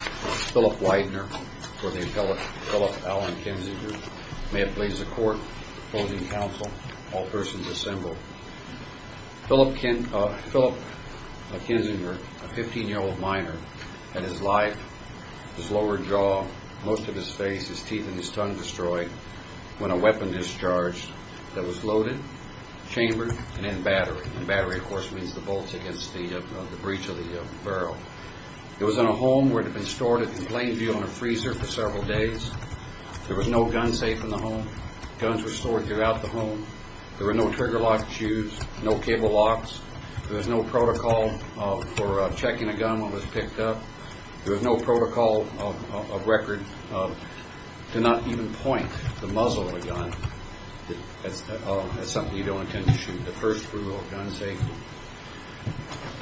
Philip Widener, or the appellate Philip Allen Kinzinger, may it please the court, opposing counsel, all persons assembled. Philip Kinzinger, a 15-year-old minor, had his life, his lower jaw, most of his face, his teeth, and his tongue destroyed when a weapon discharged that was loaded, chambered, and in battery. In battery, of course, means the bolts against the breech of the barrel. It was in a home where it had been stored in plain view in a freezer for several days. There was no gun safe in the home. Guns were stored throughout the home. There were no trigger-locked shoes, no cable locks. There was no protocol for checking a gun when it was picked up. There was no protocol of record to not even point the muzzle of a gun. That's something you don't intend to shoot. The first rule of gun safety.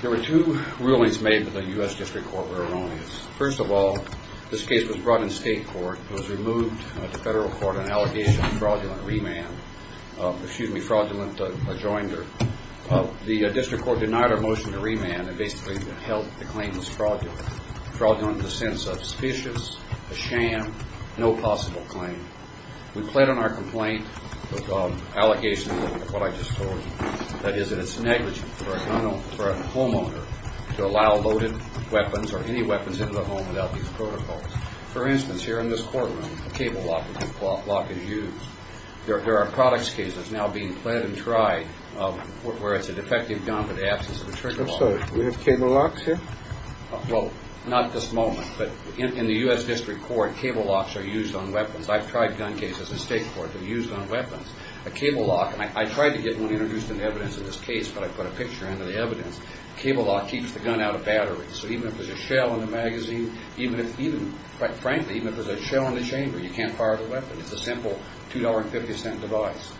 There were two rulings made that the U.S. District Court were erroneous. First of all, this case was brought in state court. It was removed to federal court on allegation of fraudulent rejoinder. The district court denied our motion to remand and basically held the claim was fraudulent. Fraudulent in the sense of suspicious, a sham, no possible claim. We plead on our complaint with allegations of what I just told you. That is that it's negligent for a homeowner to allow loaded weapons or any weapons into the home without these protocols. For instance, here in this courtroom, a cable lock is used. There are products cases now being fled and tried where it's a defective gun with the absence of a trigger lock. Do we have cable locks here? Well, not at this moment, but in the U.S. District Court, cable locks are used on weapons. I've tried gun cases in state court that are used on weapons. A cable lock, and I tried to get one introduced into evidence in this case, but I put a picture into the evidence. A cable lock keeps the gun out of battery. So even if there's a shell in the magazine, even if, quite frankly, even if there's a shell in the chamber, you can't fire the weapon. It's a simple $2.50 device.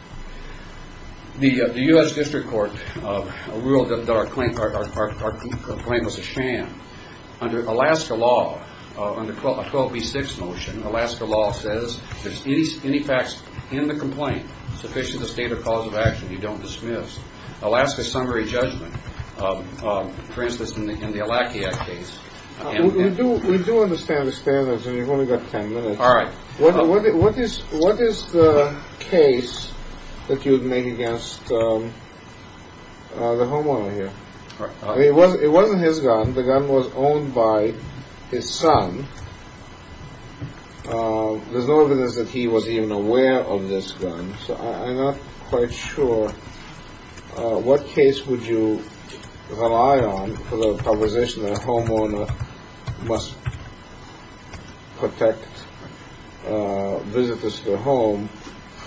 The U.S. District Court ruled that our claim was a sham. Under Alaska law, under a 12B6 motion, Alaska law says if there's any facts in the complaint sufficient to state a cause of action, you don't dismiss. Alaska summary judgment, for instance, in the Alakia case. We do understand the standards, and you've only got 10 minutes. All right. What is the case that you would make against the homeowner here? It wasn't his gun. The gun was owned by his son. There's no evidence that he was even aware of this gun, so I'm not quite sure. What case would you rely on for the proposition that a homeowner must protect visitors to their home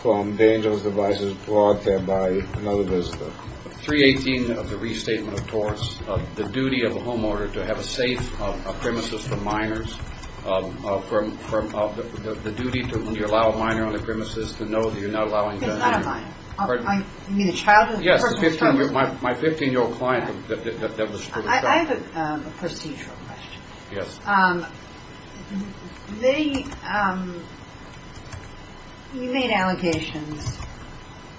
from dangerous devices brought there by another visitor? 318 of the Restatement of Torts, the duty of a homeowner to have a safe premises for minors, the duty when you allow a minor on the premises to know that you're not allowing them in. He's not a minor. Pardon? You mean a child? Yes, my 15-year-old client that was to the shelter. I have a procedural question. Yes. You made allegations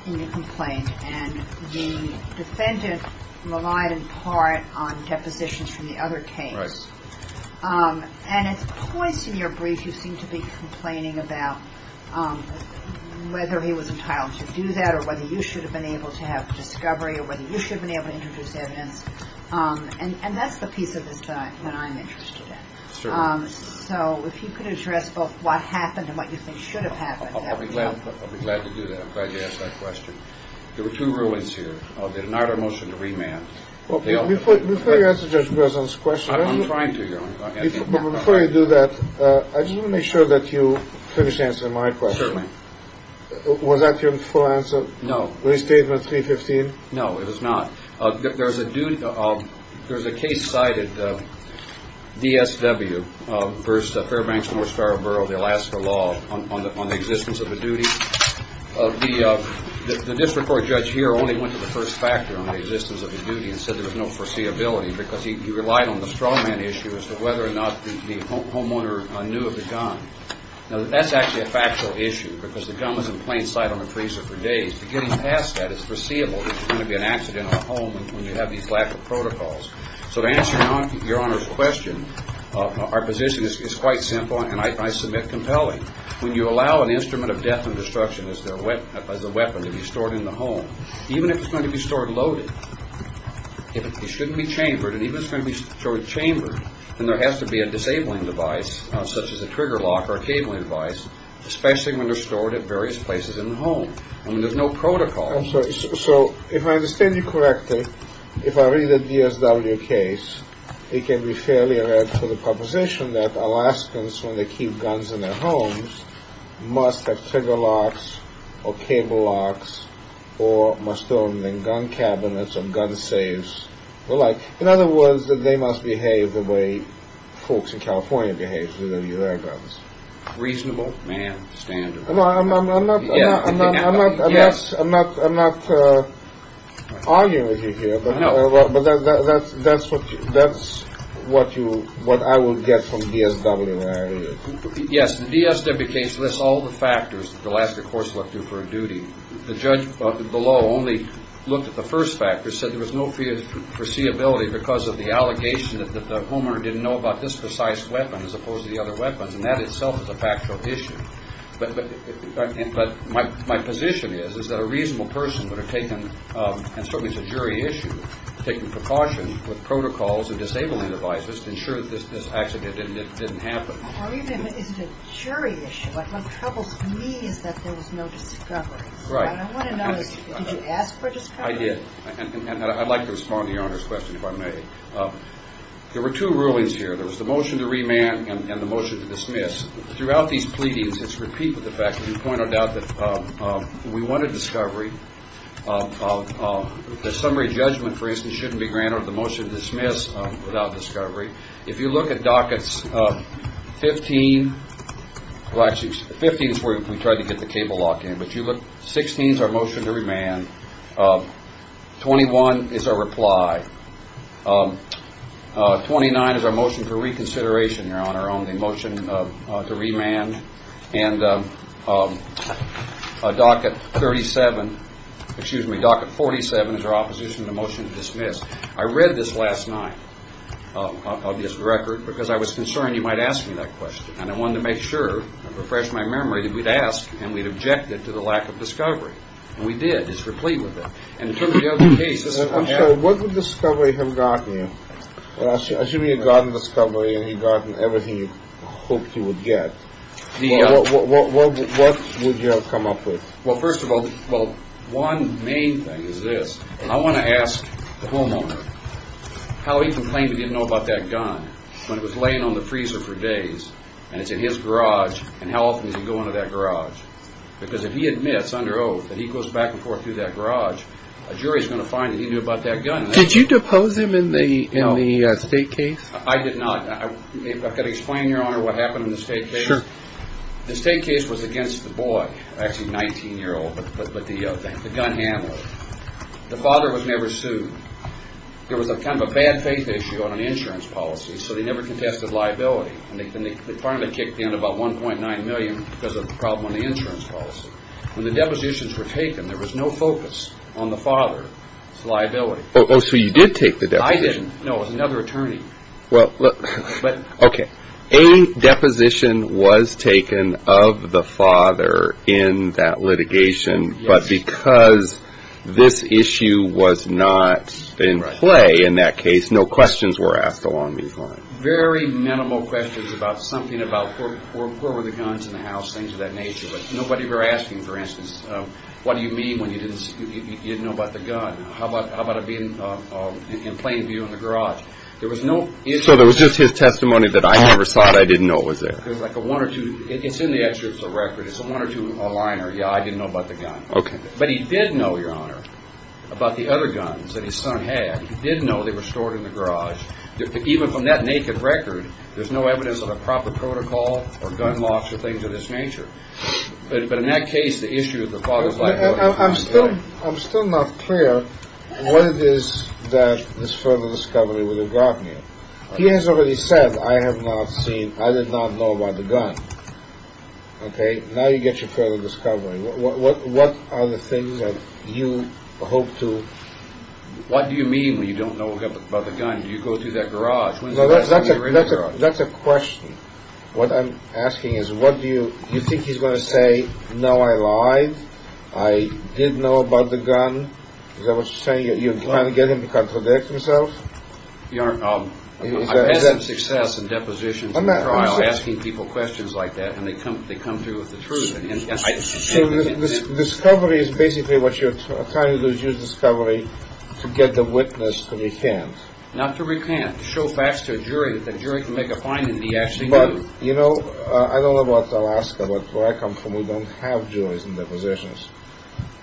in your complaint, and the defendant relied in part on depositions from the other case. Right. And at points in your brief, you seem to be complaining about whether he was entitled to do that or whether you should have been able to have discovery or whether you should have been able to introduce evidence. And that's the piece of this that I'm interested in. Certainly. So if you could address both what happened and what you think should have happened. I'll be glad to do that. I'm glad you asked that question. There were two rulings here. They denied our motion to remand. Before you answer Judge Breslin's question. I'm trying to. Before you do that, I just want to make sure that you finish answering my question. Certainly. Was that your full answer? No. Restatement 315? No, it was not. There's a case cited, DSW v. Fairbanks-North Starborough, the Alaska law, on the existence of a duty. The district court judge here only went to the first factor on the existence of a duty and said there was no foreseeability because he relied on the straw man issue as to whether or not the homeowner knew of the gun. Now, that's actually a factual issue because the gun was in plain sight on the freezer for days. Getting past that is foreseeable. It's going to be an accident on the home when you have these lack of protocols. So to answer your Honor's question, our position is quite simple and I submit compelling. When you allow an instrument of death and destruction as a weapon to be stored in the home, even if it's going to be stored loaded, if it shouldn't be chambered and even if it's going to be stored chambered, then there has to be a disabling device such as a trigger lock or a cabling device, especially when they're stored at various places in the home. I mean, there's no protocol. I'm sorry. So if I understand you correctly, if I read the DSW case, it can be fairly read for the proposition that Alaskans, when they keep guns in their homes, must have trigger locks or cable locks or must own gun cabinets or gun safes. In other words, they must behave the way folks in California behave with their guns. Reasonable, man, standard. I'm not arguing with you here, but that's what I would get from DSW. Yes, the DSW case lists all the factors that Alaska courts look to for a duty. The judge below only looked at the first factor, said there was no foreseeability because of the allegation that the homeowner didn't know about this precise weapon as opposed to the other weapons. And that itself is a factual issue. But my position is, is that a reasonable person would have taken, and certainly it's a jury issue, taken precautions with protocols and disabling devices to ensure that this accident didn't happen. Well, even if it's a jury issue, what troubles me is that there was no discovery. Right. And I want to know, did you ask for a discovery? I did. And I'd like to respond to Your Honor's question, if I may. There were two rulings here. There was the motion to remand and the motion to dismiss. Throughout these pleadings, it's repeated the fact that we pointed out that we wanted discovery. The summary judgment, for instance, shouldn't be granted with the motion to dismiss without discovery. If you look at dockets 15, well, actually 15 is where we tried to get the cable lock in, but you look, 16 is our motion to remand. 21 is our reply. 29 is our motion for reconsideration, Your Honor, on the motion to remand. And docket 37, excuse me, docket 47 is our opposition to the motion to dismiss. I read this last night of this record because I was concerned you might ask me that question. And I wanted to make sure and refresh my memory that we'd asked and we'd objected to the lack of discovery. And we did. It's replete with it. I'm sorry, what would discovery have gotten you? I assume you'd gotten discovery and you'd gotten everything you hoped you would get. What would you have come up with? Well, first of all, well, one main thing is this. I want to ask the homeowner how he complained he didn't know about that gun when it was laying on the freezer for days and it's in his garage. And how often does he go into that garage? Because if he admits under oath that he goes back and forth through that garage, a jury is going to find that he knew about that gun. Did you depose him in the state case? I did not. I've got to explain, Your Honor, what happened in the state case. The state case was against the boy, actually a 19-year-old, but the gun handler. The father was never sued. There was a kind of a bad faith issue on an insurance policy, so they never contested liability. And they finally kicked in about $1.9 million because of the problem on the insurance policy. When the depositions were taken, there was no focus on the father's liability. Oh, so you did take the deposition. I didn't. No, it was another attorney. Okay. A deposition was taken of the father in that litigation, but because this issue was not in play in that case, no questions were asked along these lines. Very minimal questions about something about where were the guns in the house, things of that nature. But nobody were asking, for instance, what do you mean when you didn't know about the gun? How about it being in plain view in the garage? So there was just his testimony that I never saw it, I didn't know it was there. It's in the excerpts of the record. It's a one or two-liner, yeah, I didn't know about the gun. But he did know, Your Honor, about the other guns that his son had. He did know they were stored in the garage. Even from that naked record, there's no evidence of a proper protocol or gun laws or things of this nature. But in that case, the issue of the father's liability. I'm still not clear what it is that this further discovery would have gotten you. He has already said, I have not seen, I did not know about the gun. Okay, now you get your further discovery. What are the things that you hope to? What do you mean when you don't know about the gun? Do you go through that garage? That's a question. What I'm asking is, what do you think he's going to say? No, I lied. I didn't know about the gun. Is that what you're saying? You're trying to get him to contradict himself? Your Honor, I've had success in depositions and trials asking people questions like that. And they come through with the truth. So this discovery is basically what you're trying to do is use discovery to get the witness to recant. Not to recant. To show facts to a jury that the jury can make a finding that he actually knew. But, you know, I don't know about Alaska, but where I come from, we don't have juries in depositions.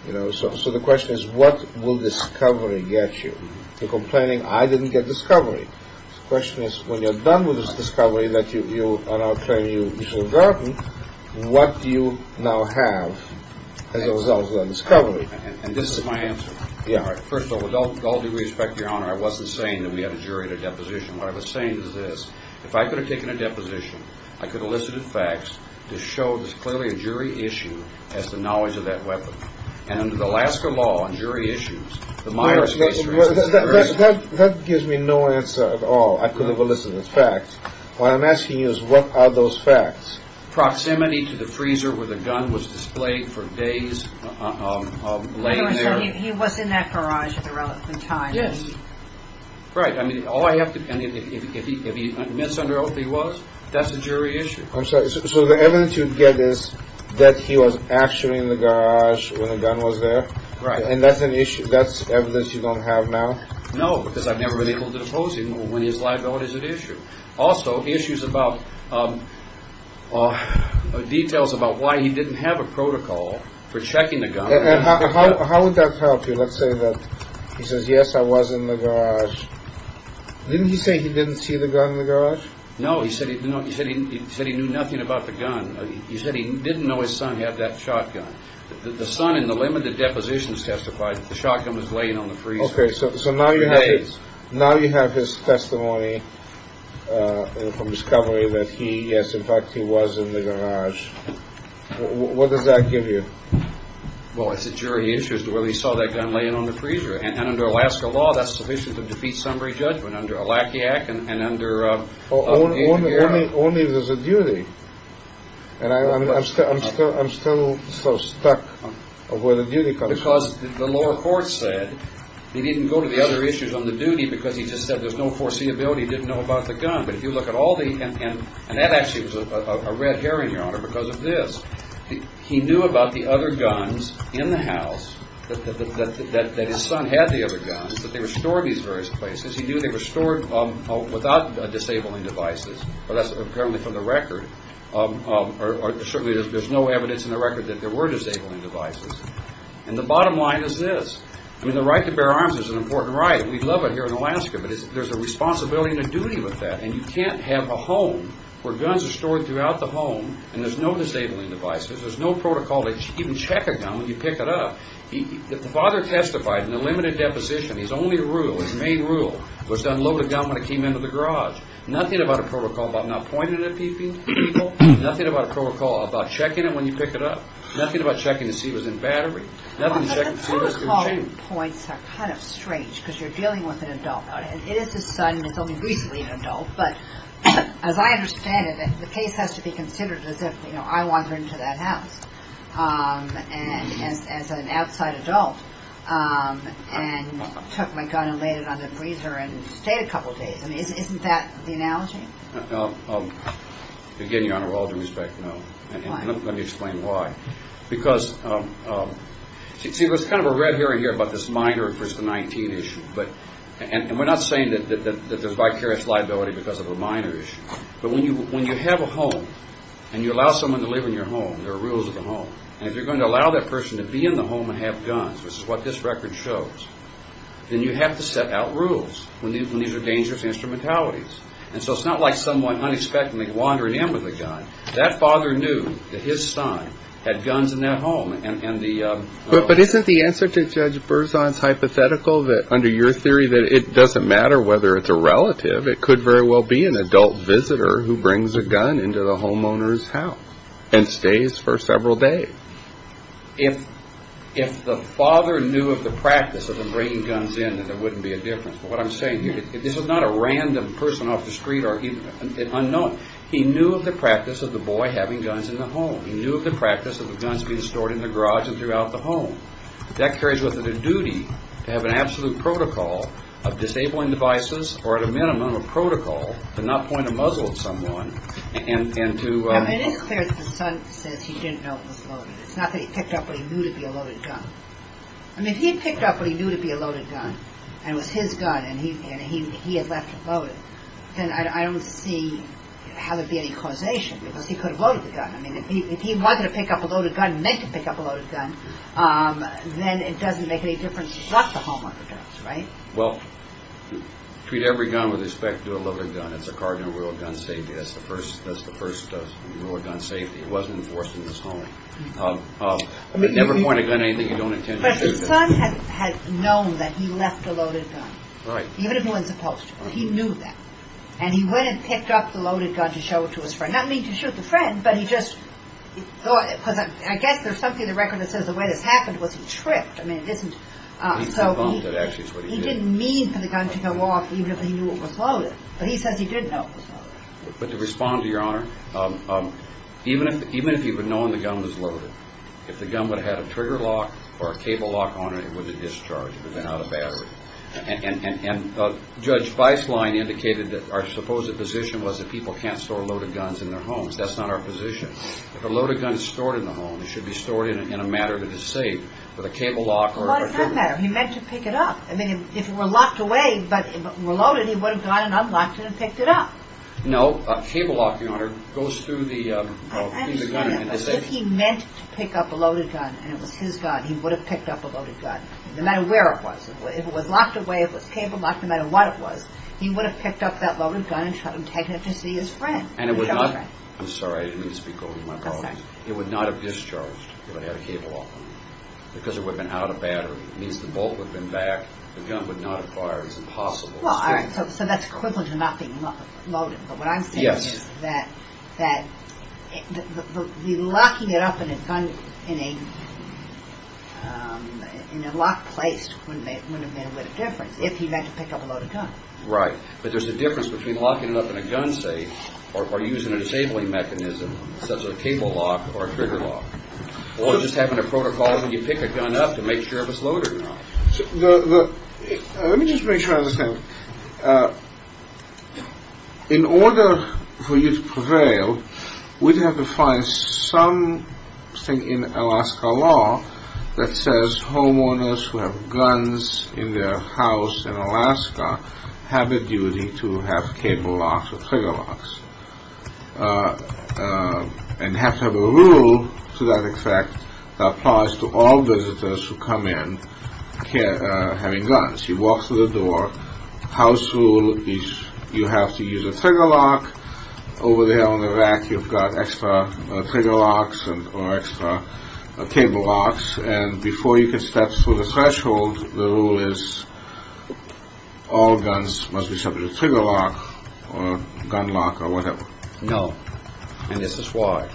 So the question is, what will discovery get you? You're complaining, I didn't get discovery. The question is, when you're done with this discovery that you, on our claim, you should have gotten, what do you now have as a result of that discovery? And this is my answer. First of all, with all due respect, Your Honor, I wasn't saying that we had a jury at a deposition. What I was saying is this. If I could have taken a deposition, I could have elicited facts to show that it's clearly a jury issue as to knowledge of that weapon. And under the Alaska law on jury issues, the modern space juries. That gives me no answer at all. I could have elicited facts. What I'm asking you is, what are those facts? Proximity to the freezer where the gun was displayed for days. He was in that garage at a relevant time. Yes. Right. I mean, all I have to, if he admits under oath that he was, that's a jury issue. I'm sorry. So the evidence you get is that he was actually in the garage when the gun was there? Right. And that's an issue, that's evidence you don't have now? No, because I've never been able to oppose him when his liability is at issue. Also, issues about details about why he didn't have a protocol for checking the gun. How would that help you? Let's say that he says, yes, I was in the garage. Didn't he say he didn't see the gun in the garage? No, he said he said he said he knew nothing about the gun. He said he didn't know his son had that shotgun. The son in the limited depositions testified that the shotgun was laying on the freezer. Okay. So now you have his testimony from discovery that he, yes, in fact, he was in the garage. What does that give you? Well, it's a jury issue as to whether he saw that gun laying on the freezer. And under Alaska law, that's sufficient to defeat summary judgment under a lackey act and under. Only if there's a duty. And I'm still so stuck of where the duty comes from. Because the lower court said he didn't go to the other issues on the duty because he just said there's no foreseeability, didn't know about the gun. But if you look at all the, and that actually was a red herring, Your Honor, because of this. He knew about the other guns in the house, that his son had the other guns, that they were stored in these various places. He knew they were stored without disabling devices. But that's apparently from the record. Certainly there's no evidence in the record that there were disabling devices. And the bottom line is this. I mean, the right to bear arms is an important right. We love it here in Alaska. But there's a responsibility and a duty with that. And you can't have a home where guns are stored throughout the home and there's no disabling devices. There's no protocol to even check a gun when you pick it up. The father testified in the limited deposition, his only rule, his main rule, was to unload the gun when it came into the garage. Nothing about a protocol about not pointing it at people. Nothing about a protocol about checking it when you pick it up. Nothing about checking to see if it was in battery. Nothing to check to see if it was in chain. The protocol points are kind of strange because you're dealing with an adult. It is his son and it's only recently an adult. But as I understand it, the case has to be considered as if I wandered into that house as an outside adult and took my gun and laid it on the freezer and stayed a couple of days. Isn't that the analogy? Again, Your Honor, with all due respect, no. Why? Let me explain why. Because, see, there's kind of a red herring here about this minor first to 19 issue. And we're not saying that there's vicarious liability because of a minor issue. But when you have a home and you allow someone to live in your home, there are rules of the home. And if you're going to allow that person to be in the home and have guns, which is what this record shows, then you have to set out rules when these are dangerous instrumentalities. And so it's not like someone unexpectedly wandered in with a gun. That father knew that his son had guns in that home. But isn't the answer to Judge Berzon's hypothetical that, under your theory, that it doesn't matter whether it's a relative, it could very well be an adult visitor who brings a gun into the homeowner's house and stays for several days? If the father knew of the practice of him bringing guns in, then there wouldn't be a difference. But what I'm saying here, this is not a random person off the street or an unknown. He knew of the practice of the boy having guns in the home. He knew of the practice of the guns being stored in the garage and throughout the home. That carries with it a duty to have an absolute protocol of disabling devices or at a minimum a protocol to not point a muzzle at someone and to... It is clear that Berzon says he didn't know it was loaded. It's not that he picked up what he knew to be a loaded gun. I mean, if he had picked up what he knew to be a loaded gun and it was his gun and he had left it loaded, then I don't see how there would be any causation because he could have loaded the gun. I mean, if he wanted to pick up a loaded gun, meant to pick up a loaded gun, then it doesn't make any difference if it's not the homeowner's guns, right? Well, treat every gun with respect to a loaded gun. It's a cardinal rule of gun safety. That's the first rule of gun safety. It wasn't enforced in this home. But never point a gun at anything you don't intend to do. But his son had known that he left a loaded gun. Right. Even if no one's opposed to it. He knew that. And he went and picked up the loaded gun to show it to his friend. Not to shoot the friend, but he just thought... Because I guess there's something in the record that says the way this happened was he tripped. I mean, it isn't... He's debunked it, actually, is what he did. He didn't mean for the gun to go off even if he knew it was loaded. But he says he did know it was loaded. But to respond to Your Honor, even if he would have known the gun was loaded, if the gun would have had a trigger lock or a cable lock on it, it would have been discharged. It would have been out of battery. And Judge Weisslein indicated that our supposed position was that people can't store loaded guns in their homes. That's not our position. If a loaded gun is stored in the home, it should be stored in a matter that is safe with a cable lock or a trigger lock. What does that matter? He meant to pick it up. I mean, if it were locked away but were loaded, he would have gone and unlocked it and picked it up. No, a cable lock, Your Honor, goes through the gun. If he meant to pick up a loaded gun and it was his gun, he would have picked up a loaded gun. No matter where it was. If it was locked away, if it was cable locked, no matter what it was, he would have picked up that loaded gun and taken it to see his friend. And it would not... I'm sorry, I didn't mean to speak over my problems. It would not have discharged if it had a cable lock on it. Because it would have been out of battery. It means the bolt would have been back. The gun would not have fired. It's impossible. So that's equivalent to not being loaded. Yes. But what I'm saying is that locking it up in a locked place wouldn't have made a difference if he had to pick up a loaded gun. Right. But there's a difference between locking it up in a gun safe or using a disabling mechanism such as a cable lock or a trigger lock. Or just having a protocol when you pick a gun up to make sure if it's loaded or not. Let me just make sure I understand. In order for you to prevail, we'd have to find something in Alaska law that says homeowners who have guns in their house in Alaska have the duty to have cable locks or trigger locks. And you have to have a rule to that effect that applies to all visitors who come in having guns. You walk through the door. House rule is you have to use a trigger lock. Over there on the rack you've got extra trigger locks or extra cable locks. And before you can step through the threshold, the rule is all guns must be subject to trigger lock or gun lock or whatever. No. And this is why.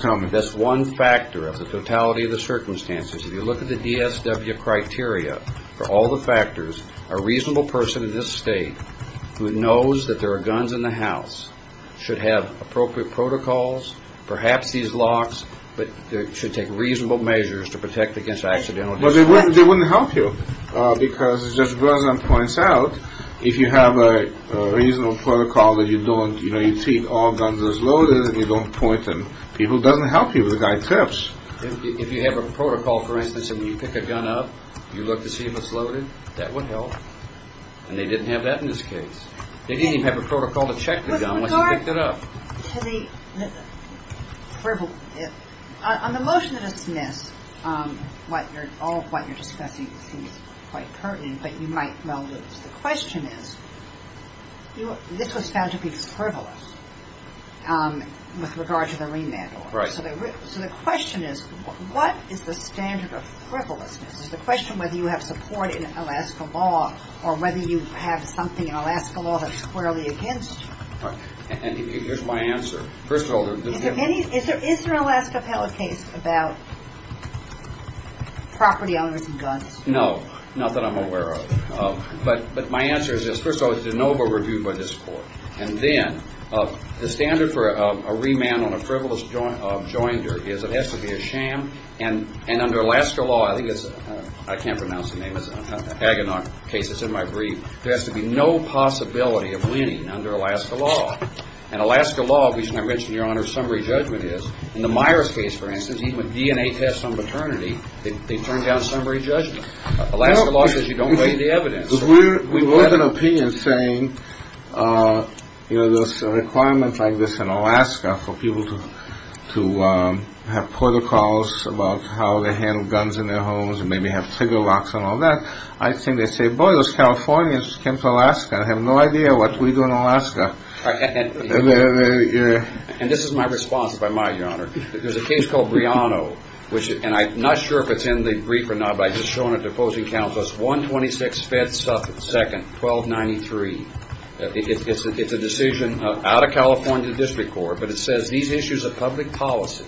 Tell me. That's one factor of the totality of the circumstances. If you look at the DSW criteria for all the factors, a reasonable person in this state who knows that there are guns in the house should have appropriate protocols. Perhaps these locks should take reasonable measures to protect against accidental discharges. Well, they wouldn't help you because as Judge Bresland points out, if you have a reasonable protocol that you treat all guns as loaded and you don't point them, people, it doesn't help you. The guy tips. If you have a protocol, for instance, and you pick a gun up, you look to see if it's loaded, that would help. And they didn't have that in this case. They didn't even have a protocol to check the gun unless you picked it up. On the motion that is dismissed, all of what you're discussing seems quite pertinent, but you might well lose. The question is, this was found to be frivolous with regard to the remand order. Right. So the question is, what is the standard of frivolousness? The question whether you have support in Alaska law or whether you have something in Alaska law that's squarely against you. And here's my answer. First of all, there's different. Is there an Alaska appellate case about property owners and guns? No. Not that I'm aware of. But my answer is this. First of all, it's a noble review by this Court. And then the standard for a remand on a frivolous joinder is it has to be a sham. And and under Alaska law, I think it's I can't pronounce the name of the case that's in my brief. There has to be no possibility of winning under Alaska law. And Alaska law, which I mentioned your honor, summary judgment is in the Myers case, for instance, even with DNA tests on maternity. They turned down summary judgment. Alaska law says you don't weigh the evidence. We have an opinion saying, you know, there's a requirement like this in Alaska for people to have protocols about how they handle guns in their homes and maybe have trigger locks and all that. I think they say, boy, those Californians came to Alaska. I have no idea what we do in Alaska. And this is my response, if I might, your honor. There's a case called Briano, which and I'm not sure if it's in the brief or not. I just shown it to opposing counsels. One twenty six feds second twelve ninety three. It's a decision out of California district court. But it says these issues of public policy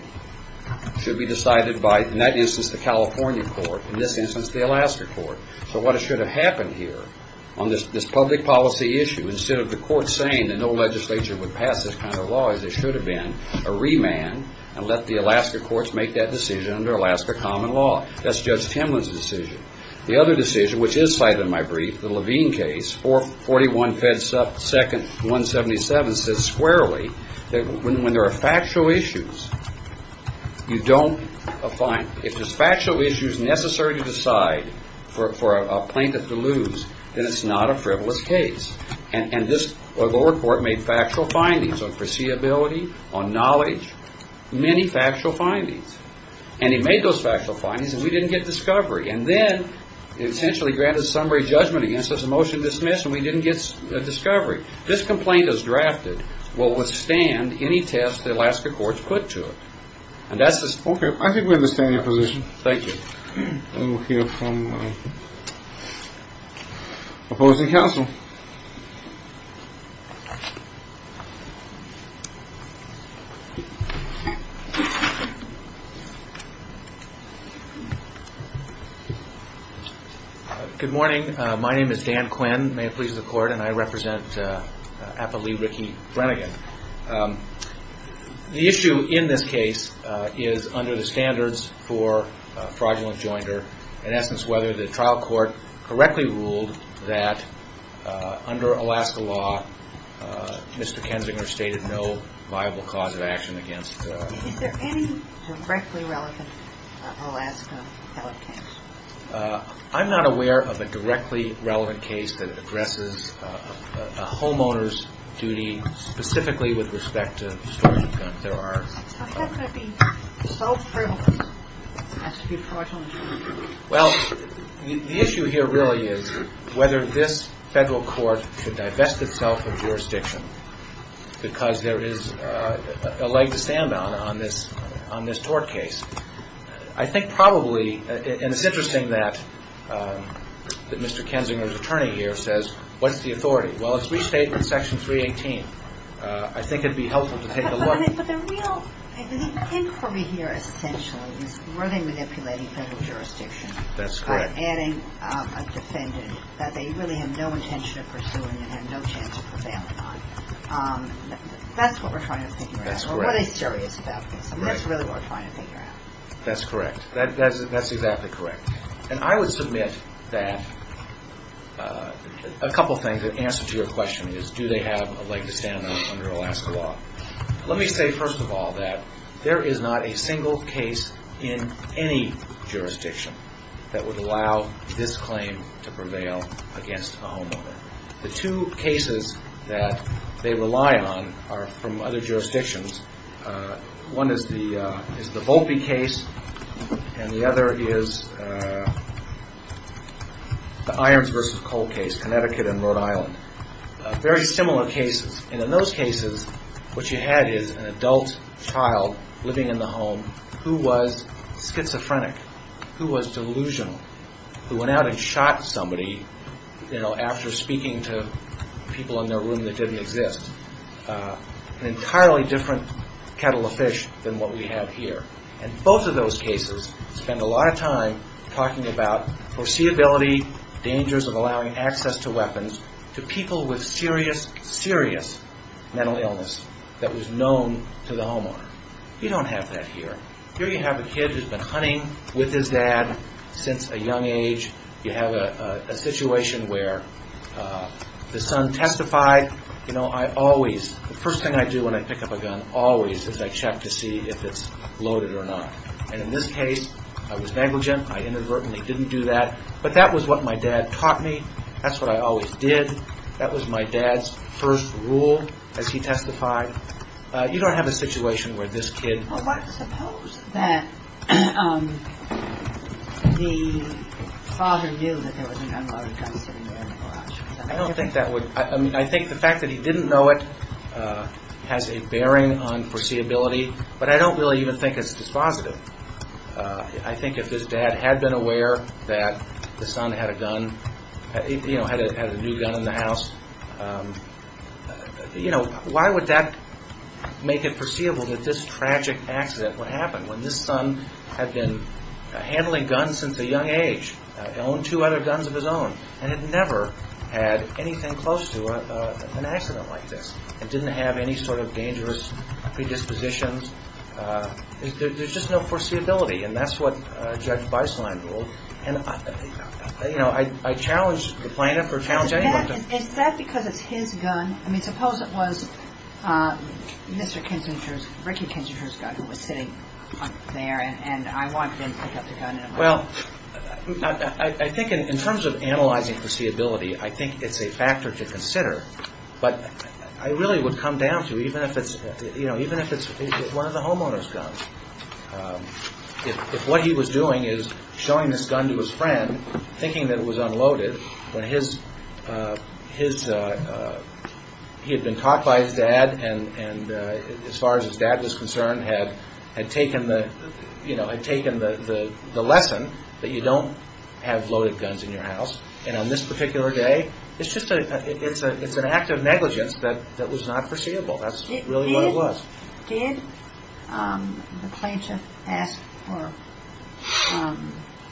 should be decided by that instance, the California court. In this instance, the Alaska court. So what should have happened here on this public policy issue instead of the court saying that no legislature would pass this kind of law as it should have been a remand and let the Alaska courts make that decision under Alaska common law. That's Judge Timlin's decision. The other decision, which is cited in my brief, the Levine case for forty one feds up second one seventy seven says squarely that when there are factual issues, you don't find if there's factual issues necessary to decide for a plaintiff to lose. And it's not a frivolous case. And this report made factual findings on foreseeability, on knowledge, many factual findings. And he made those factual findings and we didn't get discovery. And then essentially granted summary judgment against this motion dismiss and we didn't get a discovery. This complaint is drafted will withstand any test. The Alaska courts put to it. And that's OK. I think we understand your position. Thank you. Good morning. My name is Dan Quinn. May it please the court. The issue in this case is under the standards for fraudulent joinder. In essence, whether the trial court correctly ruled that under Alaska law, Mr. Kensinger stated no viable cause of action against directly relevant Alaska. I'm not aware of a directly relevant case that addresses a homeowner's duty specifically with respect to. There are. Well, the issue here really is whether this federal court should divest itself of jurisdiction because there is a leg to stand on on this on this court case. I think probably. And it's interesting that Mr. Kensinger's attorney here says, what's the authority? Well, it's restated in Section 318. I think it'd be helpful to take a look. But the real inquiry here essentially is really manipulating federal jurisdiction. That's correct. Adding a defendant that they really have no intention of pursuing and have no chance of prevailing on. That's what we're trying to think. That's what is serious about this. That's really what we're trying to figure out. That's correct. That's exactly correct. And I would submit that a couple of things that answer to your question is, do they have a leg to stand on under Alaska law? Let me say, first of all, that there is not a single case in any jurisdiction that would allow this claim to prevail against a homeowner. The two cases that they rely on are from other jurisdictions. One is the Volpe case, and the other is the Irons v. Cole case, Connecticut and Rhode Island. Very similar cases. And in those cases, what you had is an adult child living in the home who was schizophrenic, who was delusional, who went out and shot somebody after speaking to people in their room that didn't exist. An entirely different kettle of fish than what we have here. And both of those cases spend a lot of time talking about foreseeability, dangers of allowing access to weapons, to people with serious, serious mental illness that was known to the homeowner. You don't have that here. Here you have a kid who's been hunting with his dad since a young age. You have a situation where the son testified, you know, I always, the first thing I do when I pick up a gun, always is I check to see if it's loaded or not. And in this case, I was negligent. I inadvertently didn't do that. But that was what my dad taught me. That's what I always did. That was my dad's first rule as he testified. You don't have a situation where this kid. Suppose that the father knew that there was a gun loaded gun sitting there in the garage. I don't think that would, I mean, I think the fact that he didn't know it has a bearing on foreseeability. But I don't really even think it's dispositive. I think if his dad had been aware that the son had a gun, you know, had a new gun in the house, you know, why would that make it foreseeable that this tragic accident would happen when this son had been handling guns since a young age, owned two other guns of his own, and had never had anything close to an accident like this. It didn't have any sort of dangerous predispositions. There's just no foreseeability. And that's what Judge Beislein ruled. And, you know, I challenge the plaintiff or challenge anyone to. Is that because it's his gun? I mean, suppose it was Mr. Kinsinger's, Ricky Kinsinger's gun that was sitting there, and I watched him pick up the gun. Well, I think in terms of analyzing foreseeability, I think it's a factor to consider. But I really would come down to even if it's, you know, even if it's one of the homeowner's guns. If what he was doing is showing this gun to his friend, thinking that it was unloaded, when he had been caught by his dad and, as far as his dad was concerned, had taken the lesson that you don't have loaded guns in your house. And on this particular day, it's an act of negligence that was not foreseeable. That's really what it was. Did the plaintiff ask for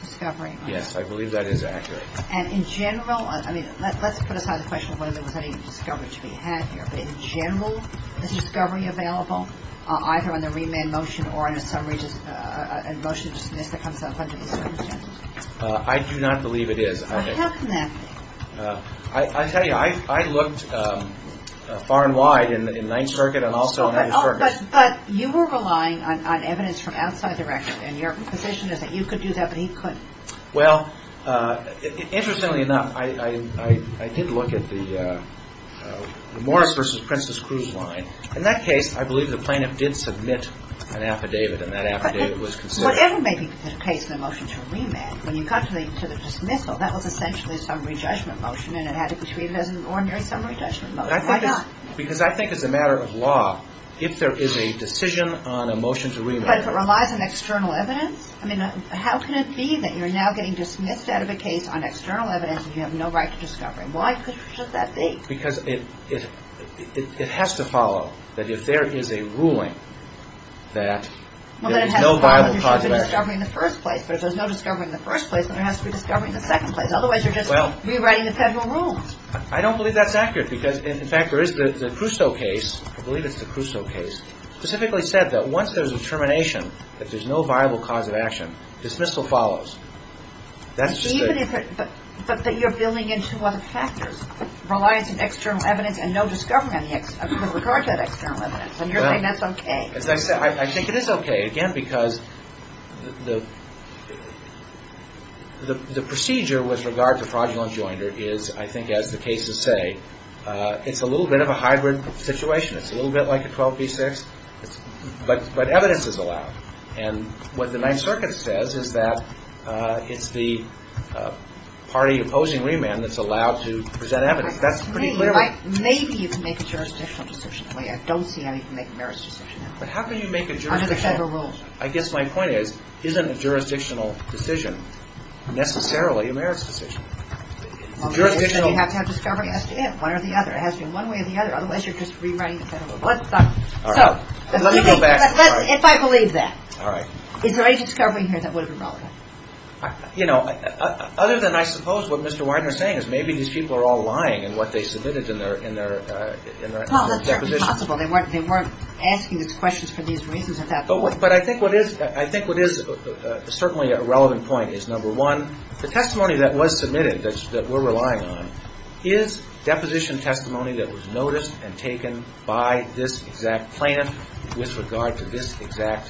discovery? Yes, I believe that is accurate. And in general, I mean, let's put aside the question of whether there was any discovery to be had here, but in general, is discovery available either on the remand motion or on a motion to dismiss that comes up under the circumstances? I do not believe it is. Well, how can that be? I tell you, I looked far and wide in Ninth Circuit and also in other circuits. But you were relying on evidence from outside the record, and your position is that you could do that, but he couldn't. Well, interestingly enough, I did look at the Morris v. Princess Cruz line. In that case, I believe the plaintiff did submit an affidavit, and that affidavit was considered. Whatever may be the case in a motion to remand, when you got to the dismissal, that was essentially a summary judgment motion, and it had to be treated as an ordinary summary judgment motion. Why not? Because I think as a matter of law, if there is a decision on a motion to remand. But if it relies on external evidence, I mean, how can it be that you're now getting dismissed out of a case on external evidence and you have no right to discovery? Why should that be? Because it has to follow that if there is a ruling that there is no viable cause of action. Well, then it has to follow that there should be discovery in the first place, but if there's no discovery in the first place, then there has to be discovery in the second place. Otherwise, you're just rewriting the federal rules. I don't believe that's accurate because, in fact, there is the Crusoe case. I believe it's the Crusoe case. It specifically said that once there's a determination that there's no viable cause of action, dismissal follows. But you're building into other factors. Reliance on external evidence and no discovery with regard to that external evidence. And you're saying that's okay. As I said, I think it is okay. Again, because the procedure with regard to fraudulent enjoinder is, I think as the cases say, it's a little bit of a hybrid situation. It's a little bit like a 12 v. 6, but evidence is allowed. And what the Ninth Circuit says is that it's the party opposing remand that's allowed to present evidence. That's pretty clear. Maybe you can make a jurisdictional decision. I don't see how you can make a merits decision. But how can you make a jurisdictional? Under the federal rules. I guess my point is, isn't a jurisdictional decision necessarily a merits decision? You have to have discovery as to one or the other. It has to be one way or the other. Otherwise, you're just rewriting the federal rules. Let me go back. If I believe that. All right. Is there any discovery in here that would have been relevant? You know, other than I suppose what Mr. Widener is saying is maybe these people are all lying in what they submitted in their deposition. Well, that's certainly possible. They weren't asking these questions for these reasons at that point. But I think what is certainly a relevant point is, number one, the testimony that was submitted that we're relying on is deposition testimony that was noticed and taken by this exact plaintiff with regard to this exact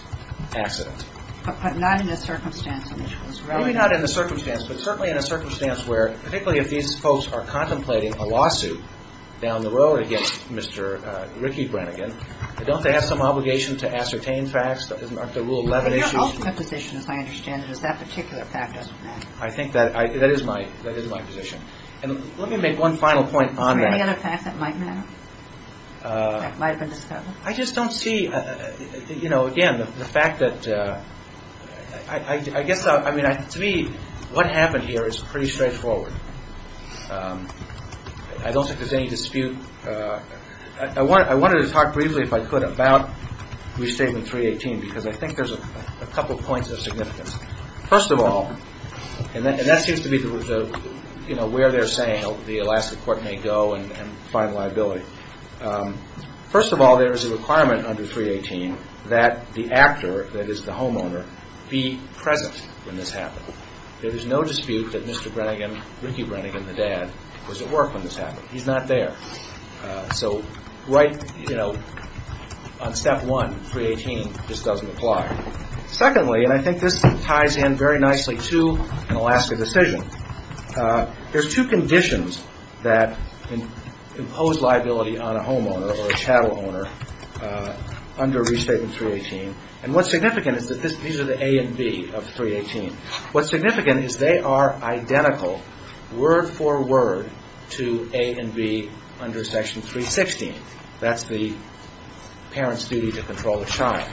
accident. But not in a circumstance in which it was relevant. Maybe not in a circumstance, but certainly in a circumstance where, particularly if these folks are contemplating a lawsuit down the road against Mr. Ricky Brennigan, don't they have some obligation to ascertain facts? Aren't there Rule 11 issues? In your ultimate position, as I understand it, is that particular fact doesn't matter. I think that is my position. And let me make one final point on that. Is there any other fact that might matter that might have been discovered? I just don't see, you know, again, the fact that I guess, I mean, to me, what happened here is pretty straightforward. I don't think there's any dispute. I wanted to talk briefly, if I could, about Restatement 318 because I think there's a couple points of significance. First of all, and that seems to be the, you know, where they're saying the Alaska court may go and find liability. First of all, there is a requirement under 318 that the actor, that is the homeowner, be present when this happened. There is no dispute that Mr. Brennigan, Ricky Brennigan, the dad, was at work when this happened. He's not there. So right, you know, on step one, 318 just doesn't apply. Secondly, and I think this ties in very nicely to an Alaska decision, there's two conditions that impose liability on a homeowner or a chattel owner under Restatement 318. And what's significant is that these are the A and B of 318. What's significant is they are identical word for word to A and B under Section 316. That's the parent's duty to control the child.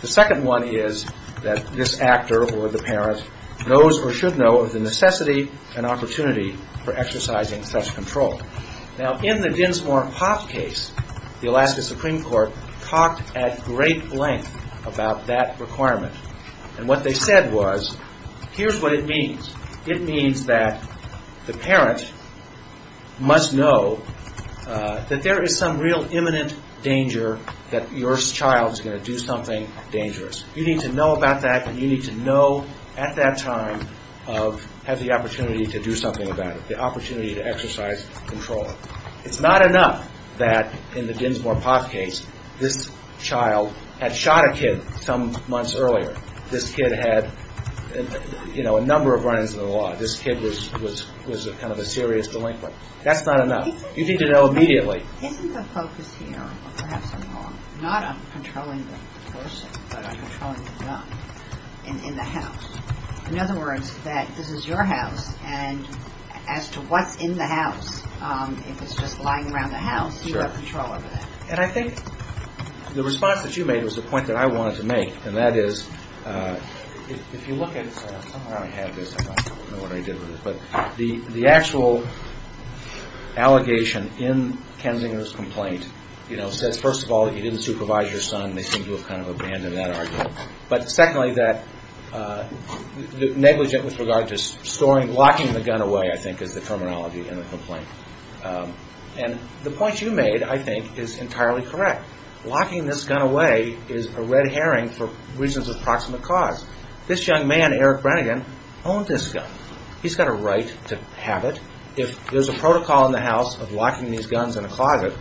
The second one is that this actor or the parent knows or should know of the necessity and opportunity for exercising such control. Now, in the Ginsmore-Poff case, the Alaska Supreme Court talked at great length about that requirement. And what they said was, here's what it means. It means that the parent must know that there is some real imminent danger that your child is going to do something dangerous. You need to know about that, and you need to know at that time of have the opportunity to do something about it, the opportunity to exercise control. It's not enough that in the Ginsmore-Poff case, this child had shot a kid some months earlier. This kid had, you know, a number of run-ins in the law. This kid was kind of a serious delinquent. That's not enough. You need to know immediately. Isn't the focus here, or perhaps I'm wrong, not on controlling the person, but on controlling the gun in the house? In other words, that this is your house, and as to what's in the house, if it's just lying around the house, you've got control over that. And I think the response that you made was the point that I wanted to make, and that is, if you look at it, the actual allegation in Kensington's complaint says, first of all, that you didn't supervise your son. They seem to have kind of abandoned that argument. But secondly, that negligent with regard to locking the gun away, I think, is the terminology in the complaint. And the point you made, I think, is entirely correct. Locking this gun away is a red herring for reasons of proximate cause. This young man, Eric Brannigan, owned this gun. He's got a right to have it. If there's a protocol in the house of locking these guns in a closet,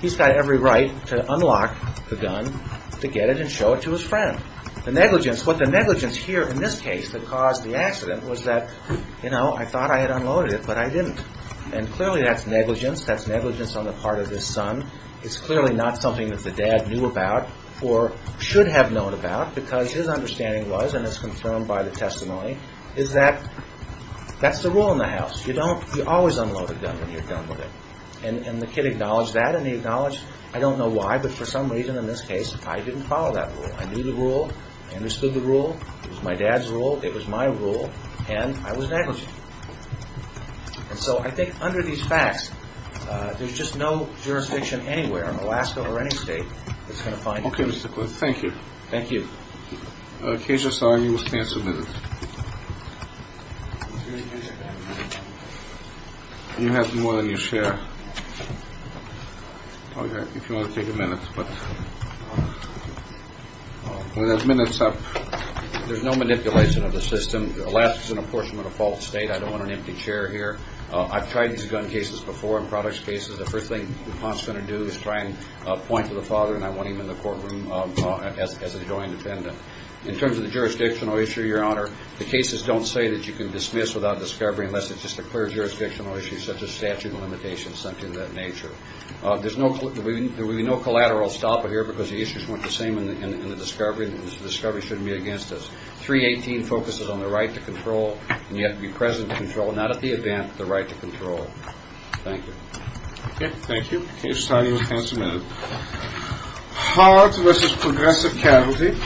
he's got every right to unlock the gun, to get it, and show it to his friend. The negligence, what the negligence here in this case that caused the accident was that, you know, I thought I had unloaded it, but I didn't. And clearly that's negligence. That's negligence on the part of his son. It's clearly not something that the dad knew about or should have known about because his understanding was, and it's confirmed by the testimony, is that that's the rule in the house. You don't always unload a gun when you're done with it. And the kid acknowledged that, and he acknowledged, I don't know why, but for some reason in this case, I didn't follow that rule. I knew the rule. I understood the rule. It was my dad's rule. It was my rule, and I was negligent. And so I think under these facts, there's just no jurisdiction anywhere in Alaska or any state that's going to fine you. Okay, Mr. Cliff. Thank you. Thank you. Okay, I'm sorry. You must stand for a minute. You have more than you share. If you want to take a minute. We have minutes up. There's no manipulation of the system. Alaska is an apportionment of false state. I don't want an empty chair here. I've tried these gun cases before in products cases. The first thing the pawn is going to do is try and point to the father, and I want him in the courtroom as a joint defendant. In terms of the jurisdictional issue, Your Honor, the cases don't say that you can dismiss without discovery unless it's just a clear jurisdictional issue such as statute of limitations, something of that nature. There will be no collateral stopper here because the issues weren't the same in the discovery, and the discovery shouldn't be against us. 318 focuses on the right to control, and you have to be present to control, not at the event, but the right to control. Thank you. Okay, thank you. You can stand. You have a chance in a minute. Hard versus progressive cavalry.